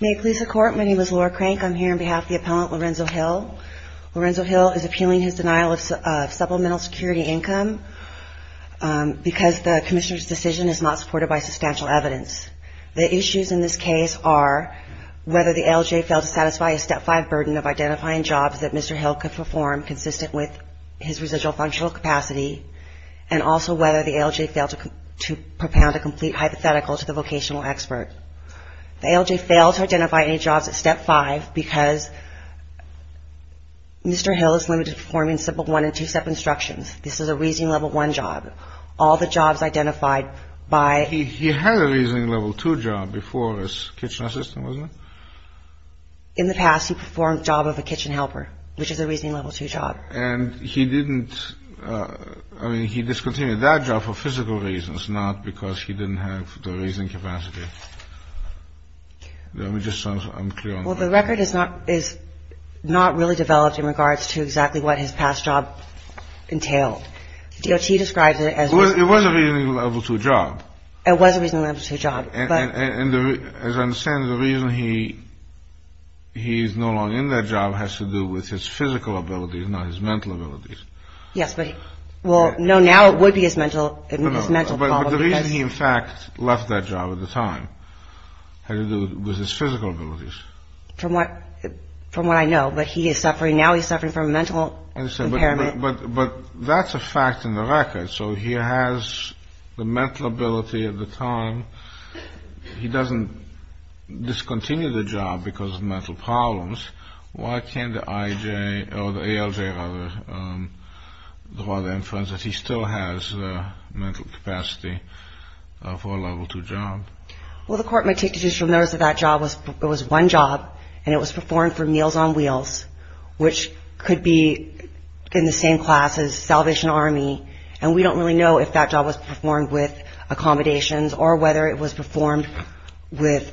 May it please the Court, my name is Laura Crank. I'm here on behalf of the Appellant Lorenzo Hill. Lorenzo Hill is appealing his denial of Supplemental Security Income because the Commissioner's decision is not supported by substantial evidence. The issues in this case are whether the LJ failed to satisfy a Step 5 burden of identifying jobs that Mr. Hill could perform consistent with his residual functional capacity, and also whether the LJ failed to propound a complete hypothetical to the vocational expert. The LJ failed to identify any jobs at Step 5 because Mr. Hill is limited to performing simple one and two step instructions. This is a Reasoning Level 1 job. All the jobs identified by He had a Reasoning Level 2 job before as Kitchen Assistant, wasn't he? In the past, he performed the job of a Kitchen Helper, which is a Reasoning Level 2 job. And he didn't, I mean, he discontinued that job for physical reasons, not because he didn't have the reasoning capacity. Let me just, I'm clear on that. Well, the record is not really developed in regards to exactly what his past job entailed. DOT describes it as It was a Reasoning Level 2 job. It was a Reasoning Level 2 job. And as I understand it, the reason he's no longer in that job has to do with his physical abilities, not his mental abilities. Yes, but, well, no, now it would be his mental, his mental problem. But the reason he, in fact, left that job at the time had to do with his physical abilities. From what, from what I know, but he is suffering, now he's suffering from mental impairment. But, but that's a fact in the record. So he has the mental ability at the time. He doesn't discontinue the job because of mental problems. Why can't the IJ, or the ALJ rather, draw the inference that he still has mental capacity for a Level 2 job? Well, the Court might take additional notice that that job was, it was one job and it was performed for which could be in the same class as Salvation Army, and we don't really know if that job was performed with accommodations or whether it was performed with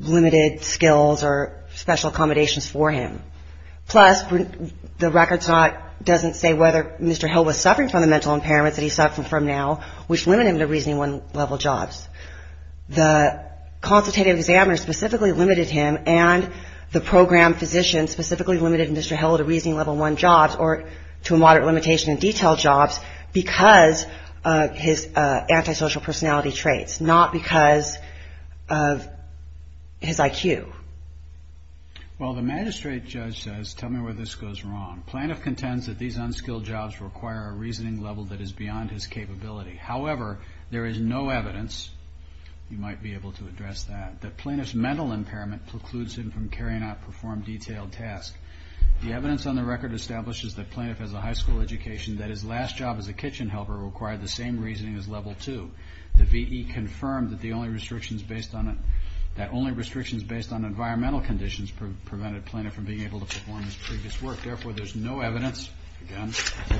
limited skills or special accommodations for him. Plus, the record's not, doesn't say whether Mr. Hill was suffering from the mental impairments that he's suffering from now, which limited him to Reasoning Level jobs. The consultative examiner specifically limited him and the program physician specifically limited Mr. Hill to Reasoning Level 1 jobs or to a moderate limitation in detail jobs because of his antisocial personality traits, not because of his IQ. Well, the magistrate judge says, tell me where this goes wrong. Planoff contends that these unskilled jobs require a reasoning level that is beyond his capability. However, there is no evidence, you might be able to address that, that Planoff's mental impairment precludes him from carrying out performed detailed tasks. The evidence on the record establishes that Planoff has a high school education, that his last job as a kitchen helper required the same reasoning as Level 2. The VE confirmed that the only restrictions based on, that only restrictions based on environmental conditions prevented Planoff from being able to perform his previous work. Therefore, there's no evidence that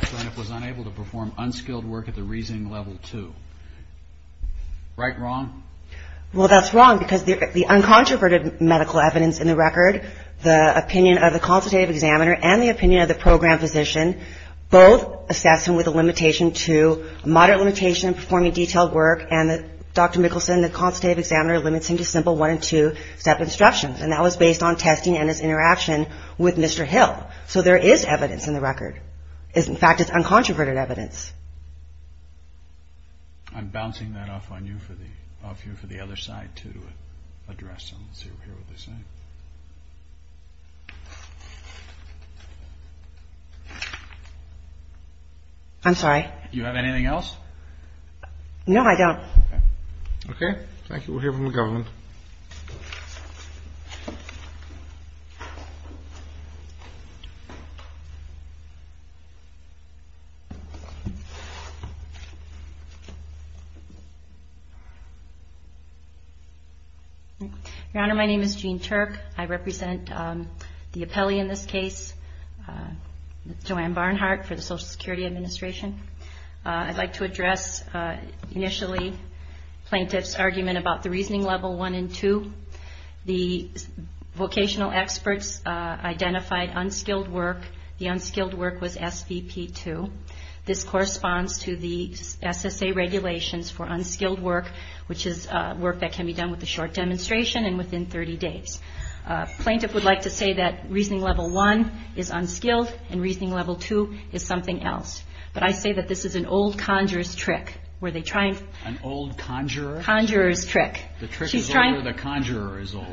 Planoff was unable to perform unskilled work at the Reasoning Level 2. Right? Wrong? Well, that's wrong because the uncontroverted medical evidence in the record, the opinion of the consultative examiner and the opinion of the program physician, both assess him with a limitation to a moderate limitation in performing detailed work and Dr. Mickelson, the consultative examiner, limits him to simple 1 and 2 step instructions. And that was based on testing and his interaction with Mr. Hill. So there is evidence in the record. In fact, it's uncontroverted evidence. I'm bouncing that off on you for the, off you for the other side to address and see what they're saying. I'm sorry. Do you have anything else? No, I don't. Okay. Thank you. We'll hear from the government. Thank you. Your Honor, my name is Jean Turk. I represent the appellee in this case, Joanne Barnhart, for the Social Security Administration. I'd like to address initially plaintiff's argument about the reasoning level 1 and 2. The vocational experts identified unskilled work. The unskilled work was SVP 2. This corresponds to the SSA regulations for unskilled work, which is work that can be done with a short demonstration and within 30 days. A plaintiff would like to say that reasoning level 1 is unskilled and reasoning level 2 is something else. But I say that this is an old conjurer's trick. An old conjurer? Conjurer's trick. The trick is over. The conjurer is old.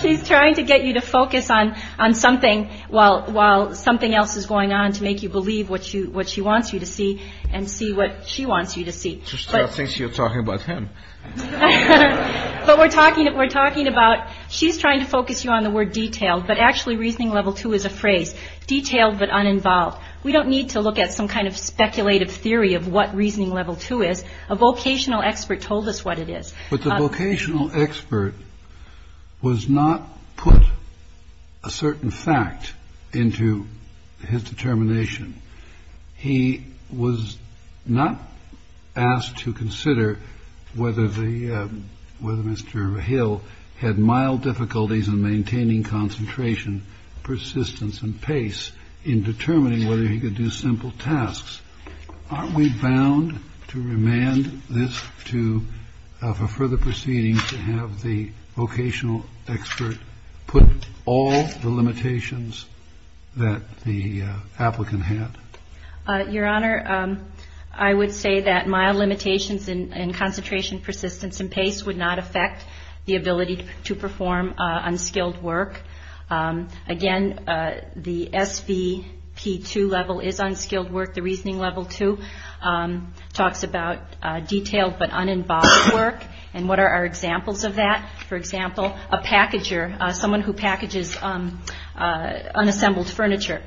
She's trying to get you to focus on something while something else is going on to make you believe what she wants you to see and see what she wants you to see. She still thinks you're talking about him. But we're talking about, she's trying to focus you on the word detailed, but actually reasoning level 2 is a phrase, detailed but uninvolved. We don't need to look at some kind of speculative theory of what reasoning level 2 is. A vocational expert told us what it is. But the vocational expert was not put a certain fact into his determination. He was not asked to consider whether the whether Mr. Hill had mild difficulties in maintaining concentration, persistence and pace in determining whether he could do simple tasks. Aren't we bound to remand this to, for further proceedings, to have the vocational expert put all the limitations that the applicant had? Your Honor, I would say that mild limitations in concentration, persistence and pace would not affect the ability to perform unskilled work. Again, the SVP2 level is unskilled work. The reasoning level 2 talks about detailed but uninvolved work. And what are our examples of that? For example, a packager, someone who packages unassembled furniture.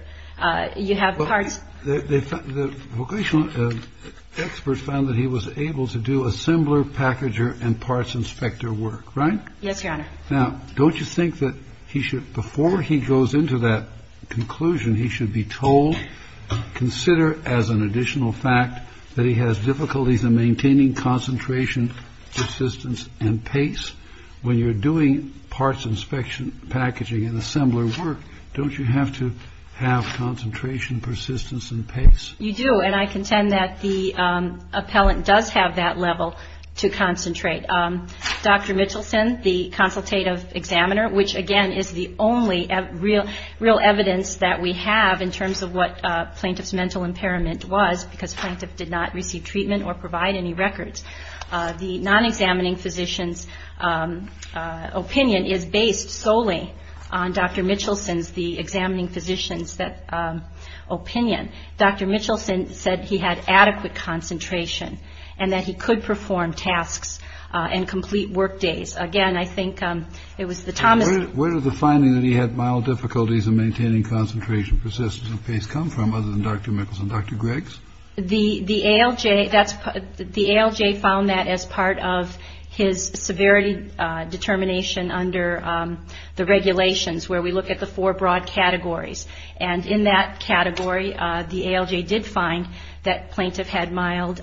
You have parts. The vocational experts found that he was able to do assembler, packager and parts inspector work, right? Yes, Your Honor. Now, don't you think that he should, before he goes into that conclusion, he should be told, consider as an additional fact that he has difficulties in maintaining concentration, persistence and pace when you're doing parts inspection, packaging and assembler work? Don't you have to have concentration, persistence and pace? You do. And I contend that the appellant does have that level to concentrate. Dr. Mitchelson, the consultative examiner, which again is the only real evidence that we have in terms of what plaintiff's mental impairment was because plaintiff did not receive treatment or provide any records. The non-examining physician's opinion is based solely on Dr. Mitchelson's, the examining physician's opinion. Dr. Mitchelson said he had adequate concentration and that he could perform tasks and complete work days. Again, I think it was the time where the finding that he had mild difficulties in maintaining concentration, persistence and pace come from other than Dr. Mickelson. Dr. Greggs, the ALJ. That's the ALJ found that as part of his severity determination under the regulations where we look at the four broad categories. And in that category, the ALJ did find that plaintiff had mild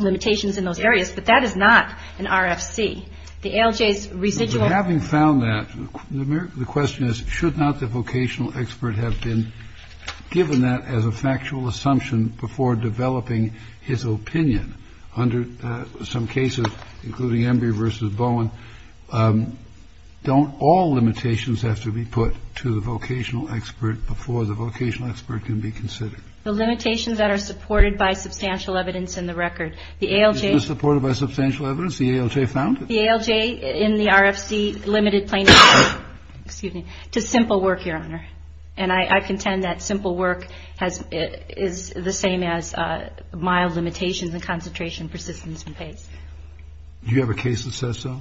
limitations in those areas. But that is not an RFC. The ALJ's residual having found that the question is, should not the vocational expert have been given that as a factual assumption before developing his opinion? Under some cases, including Embry v. Bowen, don't all limitations have to be put to the vocational expert before the vocational expert can be considered? The limitations that are supported by substantial evidence in the record. The ALJ. Supported by substantial evidence. The ALJ found it. The ALJ in the RFC limited plaintiff to simple work, Your Honor. And I contend that simple work is the same as mild limitations and concentration, persistence and pace. Do you have a case that says so?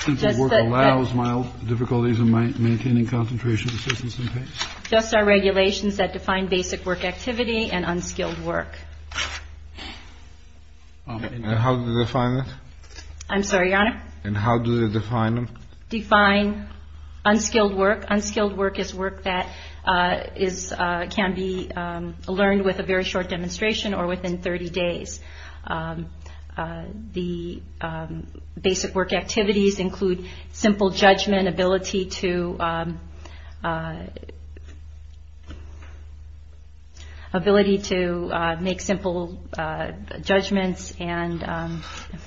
Simple work allows mild difficulties in maintaining concentration, persistence and pace? Just our regulations that define basic work activity and unskilled work. And how do they define it? I'm sorry, Your Honor? And how do they define them? Define unskilled work. Unskilled work is work that can be learned with a very short demonstration or within 30 days. The basic work activities include simple judgment, ability to make simple judgments, and I'm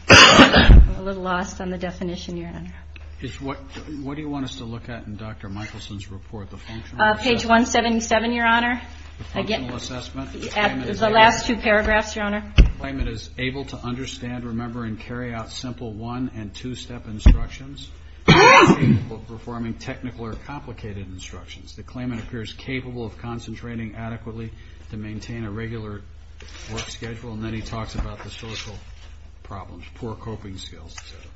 a little lost on the definition, Your Honor. What do you want us to look at in Dr. Michelson's report, the functional assessment? Page 177, Your Honor. The functional assessment. The last two paragraphs, Your Honor. The claimant is able to understand, remember and carry out simple one and two-step instructions. He is capable of performing technical or complicated instructions. The claimant appears capable of concentrating adequately to maintain a regular work schedule. And then he talks about the social problems, poor coping skills, et cetera.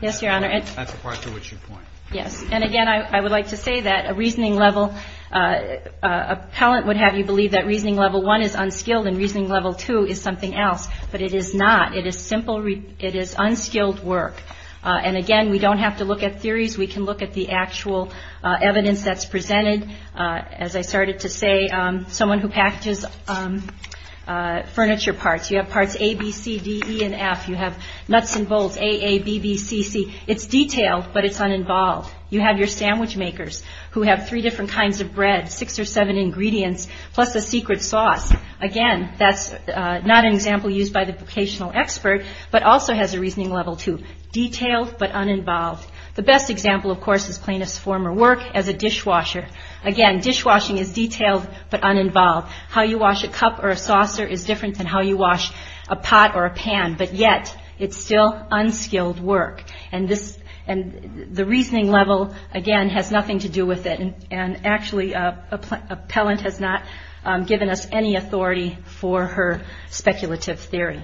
Yes, Your Honor. That's the part to which you point. Yes. And, again, I would like to say that a reasoning level appellant would have you believe that reasoning level one is unskilled and reasoning level two is something else. But it is not. It is unskilled work. And, again, we don't have to look at theories. We can look at the actual evidence that's presented. As I started to say, someone who packages furniture parts, you have parts A, B, C, D, E, and F. You have nuts and bolts, A, A, B, B, C, C. It's detailed, but it's uninvolved. You have your sandwich makers who have three different kinds of bread, six or seven ingredients, plus a secret sauce. Again, that's not an example used by the vocational expert, but also has a reasoning level two, detailed but uninvolved. The best example, of course, is plaintiff's former work as a dishwasher. Again, dishwashing is detailed but uninvolved. How you wash a cup or a saucer is different than how you wash a pot or a pan, but yet it's still unskilled work. And the reasoning level, again, has nothing to do with it. And, actually, appellant has not given us any authority for her speculative theory.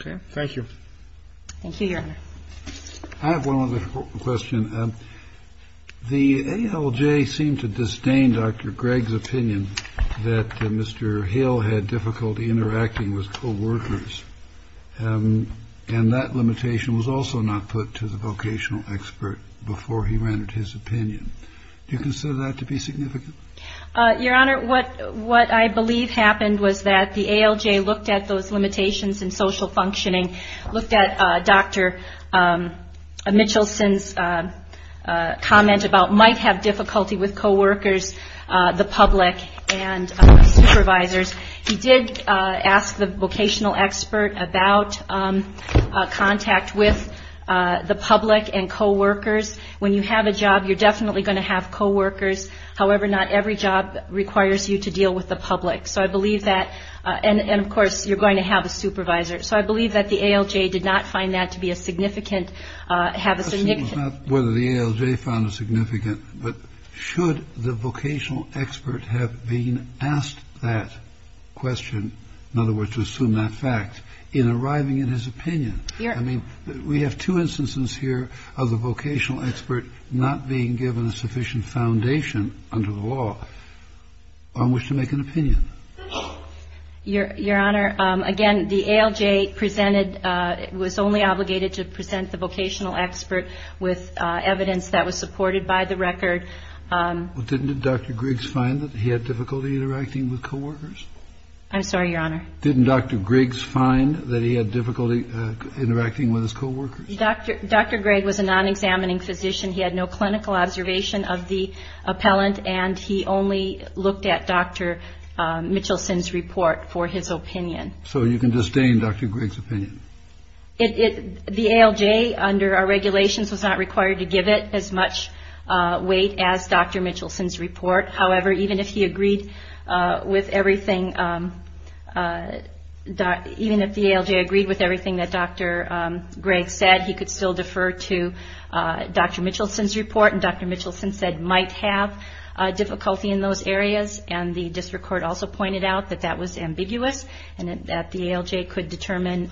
Okay. Thank you. Thank you, Your Honor. I have one other question. The ALJ seemed to disdain Dr. Gregg's opinion that Mr. Hill had difficulty interacting with co-workers, and that limitation was also not put to the vocational expert before he rendered his opinion. Do you consider that to be significant? Your Honor, what I believe happened was that the ALJ looked at those limitations in social functioning, looked at Dr. Mitchelson's comment about might have difficulty with co-workers, the public, and supervisors. He did ask the vocational expert about contact with the public and co-workers. When you have a job, you're definitely going to have co-workers. However, not every job requires you to deal with the public. So I believe that, and, of course, you're going to have a supervisor. So I believe that the ALJ did not find that to be a significant, have a significant It was not whether the ALJ found it significant, but should the vocational expert have been asked that question, in other words, to assume that fact, in arriving at his opinion? I mean, we have two instances here of the vocational expert not being given a sufficient foundation under the law on which to make an opinion. Your Honor, again, the ALJ presented, was only obligated to present the vocational expert with evidence that was supported by the record. Didn't Dr. Griggs find that he had difficulty interacting with co-workers? I'm sorry, Your Honor. Didn't Dr. Griggs find that he had difficulty interacting with his co-workers? Dr. Griggs was a non-examining physician. He had no clinical observation of the appellant, and he only looked at Dr. Mitchelson's report for his opinion. So you can disdain Dr. Griggs' opinion? The ALJ, under our regulations, was not required to give it as much weight as Dr. Mitchelson's report. However, even if he agreed with everything, even if the ALJ agreed with everything that Dr. Griggs said, he could still defer to Dr. Mitchelson's report. And Dr. Mitchelson said might have difficulty in those areas, and the district court also pointed out that that was ambiguous, and that the ALJ could determine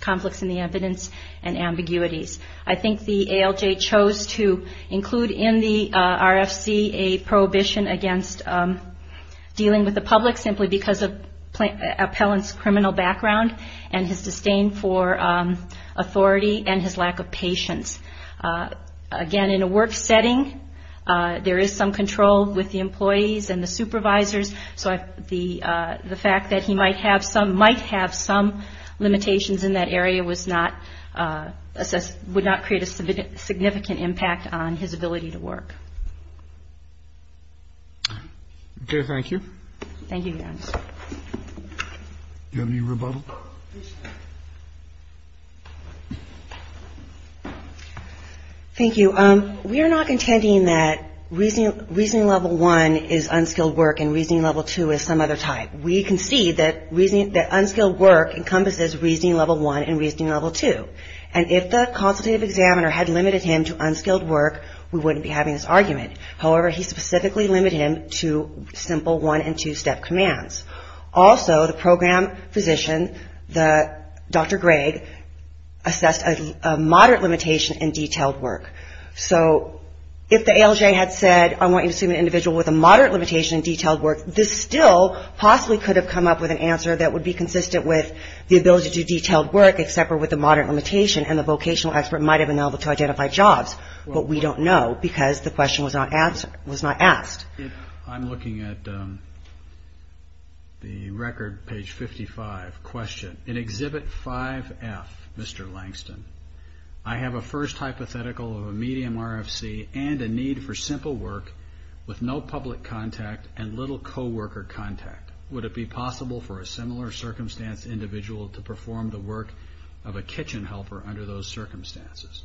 conflicts in the evidence and ambiguities. I think the ALJ chose to include in the RFC a prohibition against dealing with the public, simply because of the appellant's criminal background and his disdain for authority and his lack of patience. Again, in a work setting, there is some control with the employees and the supervisors, so the fact that he might have some limitations in that area would not create a significant impact on his ability to work. Okay, thank you. Thank you, Your Honor. Do you have any rebuttal? Please stand. Thank you. We are not contending that Reasoning Level 1 is unskilled work and Reasoning Level 2 is some other type. We concede that unskilled work encompasses Reasoning Level 1 and Reasoning Level 2, and if the consultative examiner had limited him to unskilled work, we wouldn't be having this argument. However, he specifically limited him to simple one- and two-step commands. Also, the program physician, Dr. Gregg, assessed a moderate limitation in detailed work. So if the ALJ had said, I want you to assume an individual with a moderate limitation in detailed work, this still possibly could have come up with an answer that would be consistent with the ability to do detailed work, except for with a moderate limitation, and the vocational expert might have been able to identify jobs, but we don't know because the question was not asked. I'm looking at the record, page 55, question. In Exhibit 5F, Mr. Langston, I have a first hypothetical of a medium RFC and a need for simple work with no public contact and little co-worker contact. Would it be possible for a similar circumstance individual to perform the work of a kitchen helper under those circumstances?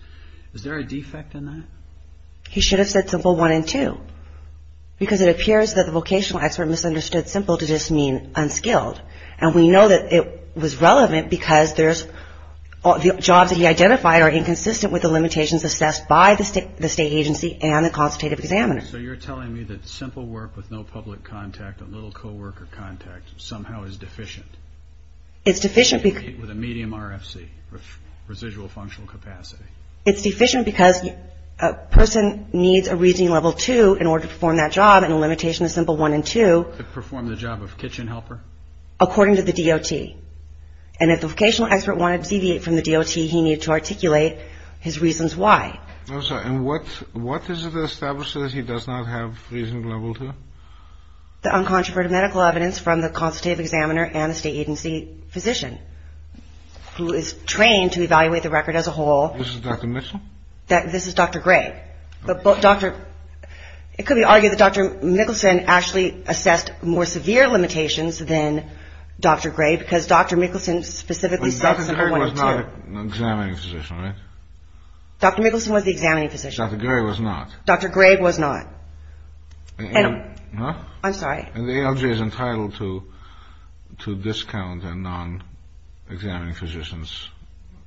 Is there a defect in that? He should have said simple one and two, because it appears that the vocational expert misunderstood simple to just mean unskilled, and we know that it was relevant because the jobs that he identified are inconsistent with the limitations assessed by the state agency and the consultative examiner. So you're telling me that simple work with no public contact and little co-worker contact somehow is deficient. It's deficient because... With a medium RFC, residual functional capacity. It's deficient because a person needs a reasoning level two in order to perform that job and a limitation of simple one and two... To perform the job of kitchen helper. ...according to the DOT. And if the vocational expert wanted to deviate from the DOT, he needed to articulate his reasons why. I'm sorry. And what is it that establishes he does not have reasoning level two? The uncontroverted medical evidence from the consultative examiner and the state agency physician who is trained to evaluate the record as a whole... This is Dr. Mickelson? This is Dr. Gray. It could be argued that Dr. Mickelson actually assessed more severe limitations than Dr. Gray because Dr. Mickelson specifically said simple one and two. Dr. Gray was not an examining physician, right? Dr. Mickelson was the examining physician. Dr. Gray was not. Dr. Gray was not. I'm sorry. And the LJ is entitled to discount on non-examining physicians.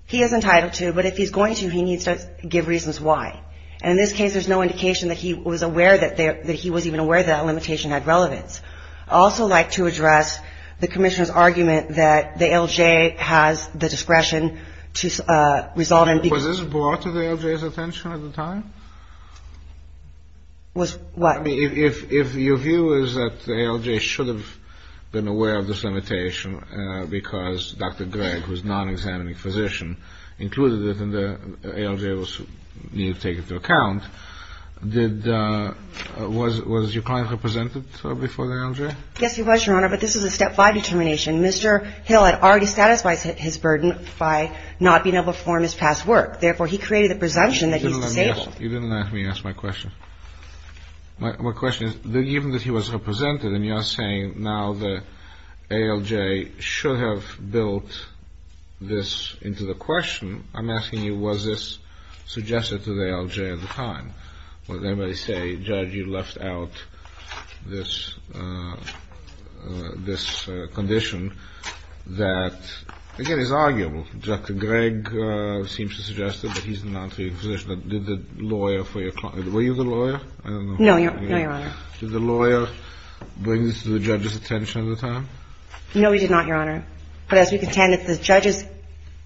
He is entitled to, but if he's going to, he needs to give reasons why. And in this case, there's no indication that he was aware that he was even aware that a limitation had relevance. I'd also like to address the commissioner's argument that the LJ has the discretion to resolve... Was this brought to the LJ's attention at the time? Was what? If your view is that the LJ should have been aware of this limitation because Dr. Gray, who is a non-examining physician, included it and the LJ needed to take it into account, was your client represented before the LJ? Yes, he was, Your Honor, but this is a step five determination. Mr. Hill had already satisfied his burden by not being able to perform his past work. Therefore, he created the presumption that he's disabled. You didn't let me ask my question. My question is, given that he was represented and you're saying now the ALJ should have built this into the question, I'm asking you, was this suggested to the ALJ at the time? Would anybody say, Judge, you left out this condition that, again, is arguable. Dr. Gray seems to suggest that he's a non-examining physician. Did the lawyer for your client – were you the lawyer? No, Your Honor. Did the lawyer bring this to the judge's attention at the time? No, he did not, Your Honor. But as we contend, it's the judge's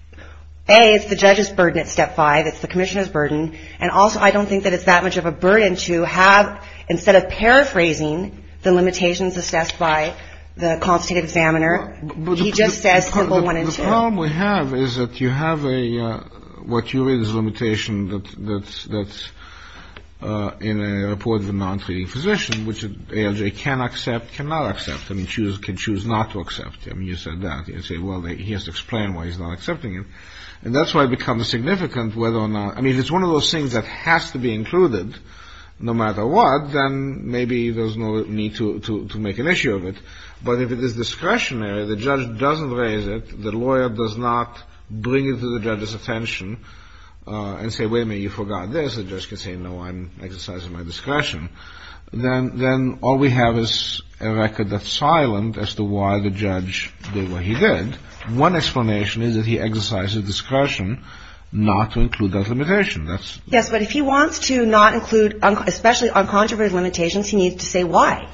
– A, it's the judge's burden at step five. It's the commissioner's burden. And also, I don't think that it's that much of a burden to have, instead of paraphrasing the limitations assessed by the consultative examiner, he just says simple one and two. The problem we have is that you have a – what you read is a limitation that's in a report of a non-treating physician, which an ALJ can accept, cannot accept. I mean, can choose not to accept. I mean, you said that. You say, well, he has to explain why he's not accepting it. And that's why it becomes significant whether or not – I mean, if it's one of those things that has to be included no matter what, then maybe there's no need to make an issue of it. But if it is discretionary, the judge doesn't raise it, the lawyer does not bring it to the judge's attention and say, wait a minute, you forgot this. The judge can say, no, I'm exercising my discretion. Then all we have is a record that's silent as to why the judge did what he did. One explanation is that he exercised his discretion not to include that limitation. Yes, but if he wants to not include – especially uncontroverted limitations, he needs to say why.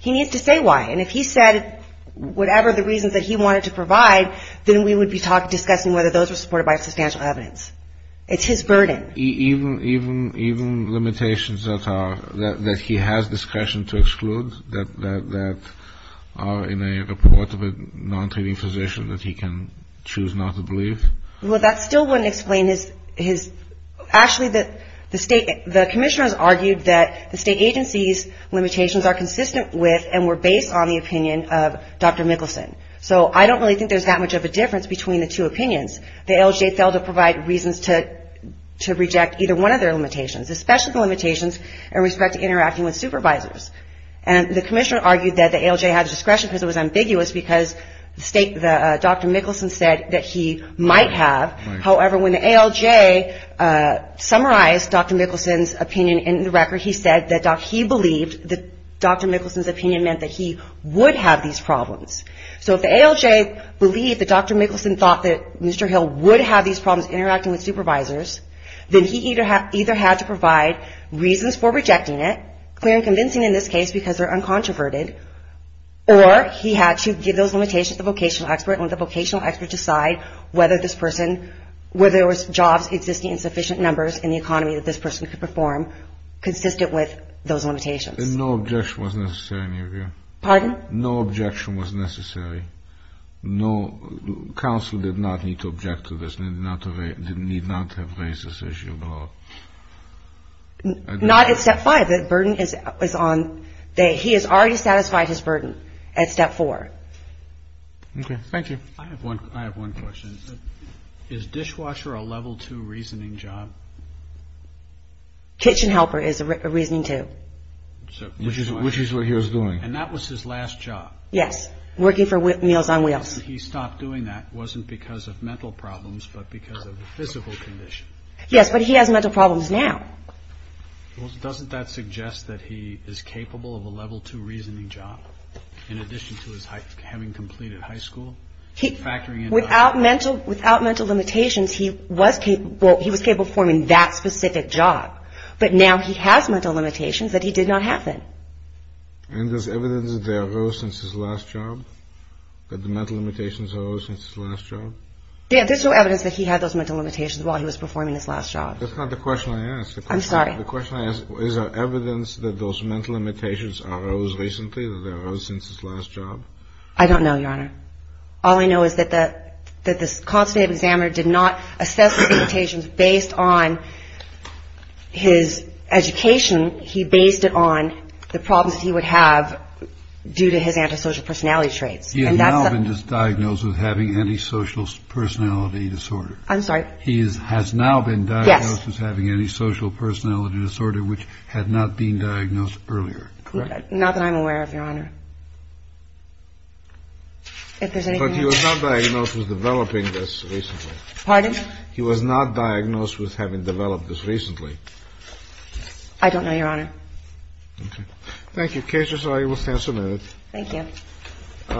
He needs to say why. And if he said whatever the reasons that he wanted to provide, then we would be discussing whether those were supported by substantial evidence. It's his burden. Even limitations that he has discretion to exclude, that are in a report of a non-treating physician that he can choose not to believe? Well, that still wouldn't explain his – Actually, the commissioner has argued that the state agency's limitations are consistent with and were based on the opinion of Dr. Mickelson. So I don't really think there's that much of a difference between the two opinions. The ALJ failed to provide reasons to reject either one of their limitations, especially the limitations in respect to interacting with supervisors. And the commissioner argued that the ALJ had discretion because it was ambiguous because Dr. Mickelson said that he might have. However, when the ALJ summarized Dr. Mickelson's opinion in the record, he said that he believed that Dr. Mickelson's opinion meant that he would have these problems. So if the ALJ believed that Dr. Mickelson thought that Mr. Hill would have these problems interacting with supervisors, then he either had to provide reasons for rejecting it, clear and convincing in this case because they're uncontroverted, or he had to give those limitations to the vocational expert and let the vocational expert decide whether there were jobs existing in sufficient numbers in the economy that this person could perform consistent with those limitations. And no objection was necessary in your view? Pardon? No objection was necessary. Counsel did not need to object to this, did not have raised this issue at all? Not at step five. The burden is on they. He has already satisfied his burden at step four. Okay. Thank you. I have one question. Is dishwasher a level two reasoning job? Kitchen helper is a reasoning two. Which is what he was doing. And that was his last job. Yes. Working for Meals on Wheels. He stopped doing that, wasn't because of mental problems, but because of physical condition. Yes, but he has mental problems now. Doesn't that suggest that he is capable of a level two reasoning job? In addition to his having completed high school? Without mental limitations, he was capable of performing that specific job. But now he has mental limitations that he did not have then. And there's evidence that they arose since his last job? That the mental limitations arose since his last job? There's no evidence that he had those mental limitations while he was performing his last job. That's not the question I asked. I'm sorry. The question I asked, is there evidence that those mental limitations arose recently, that they arose since his last job? I don't know, Your Honor. All I know is that the constitutive examiner did not assess the limitations based on his education. He based it on the problems he would have due to his antisocial personality traits. He has now been diagnosed with having antisocial personality disorder. I'm sorry? He has now been diagnosed with having antisocial personality disorder, which had not been diagnosed earlier. Correct? Not that I'm aware of, Your Honor. But he was not diagnosed with developing this recently? Pardon? He was not diagnosed with having developed this recently? I don't know, Your Honor. Okay. Thank you. Case resolved. You will stand submitted. Thank you.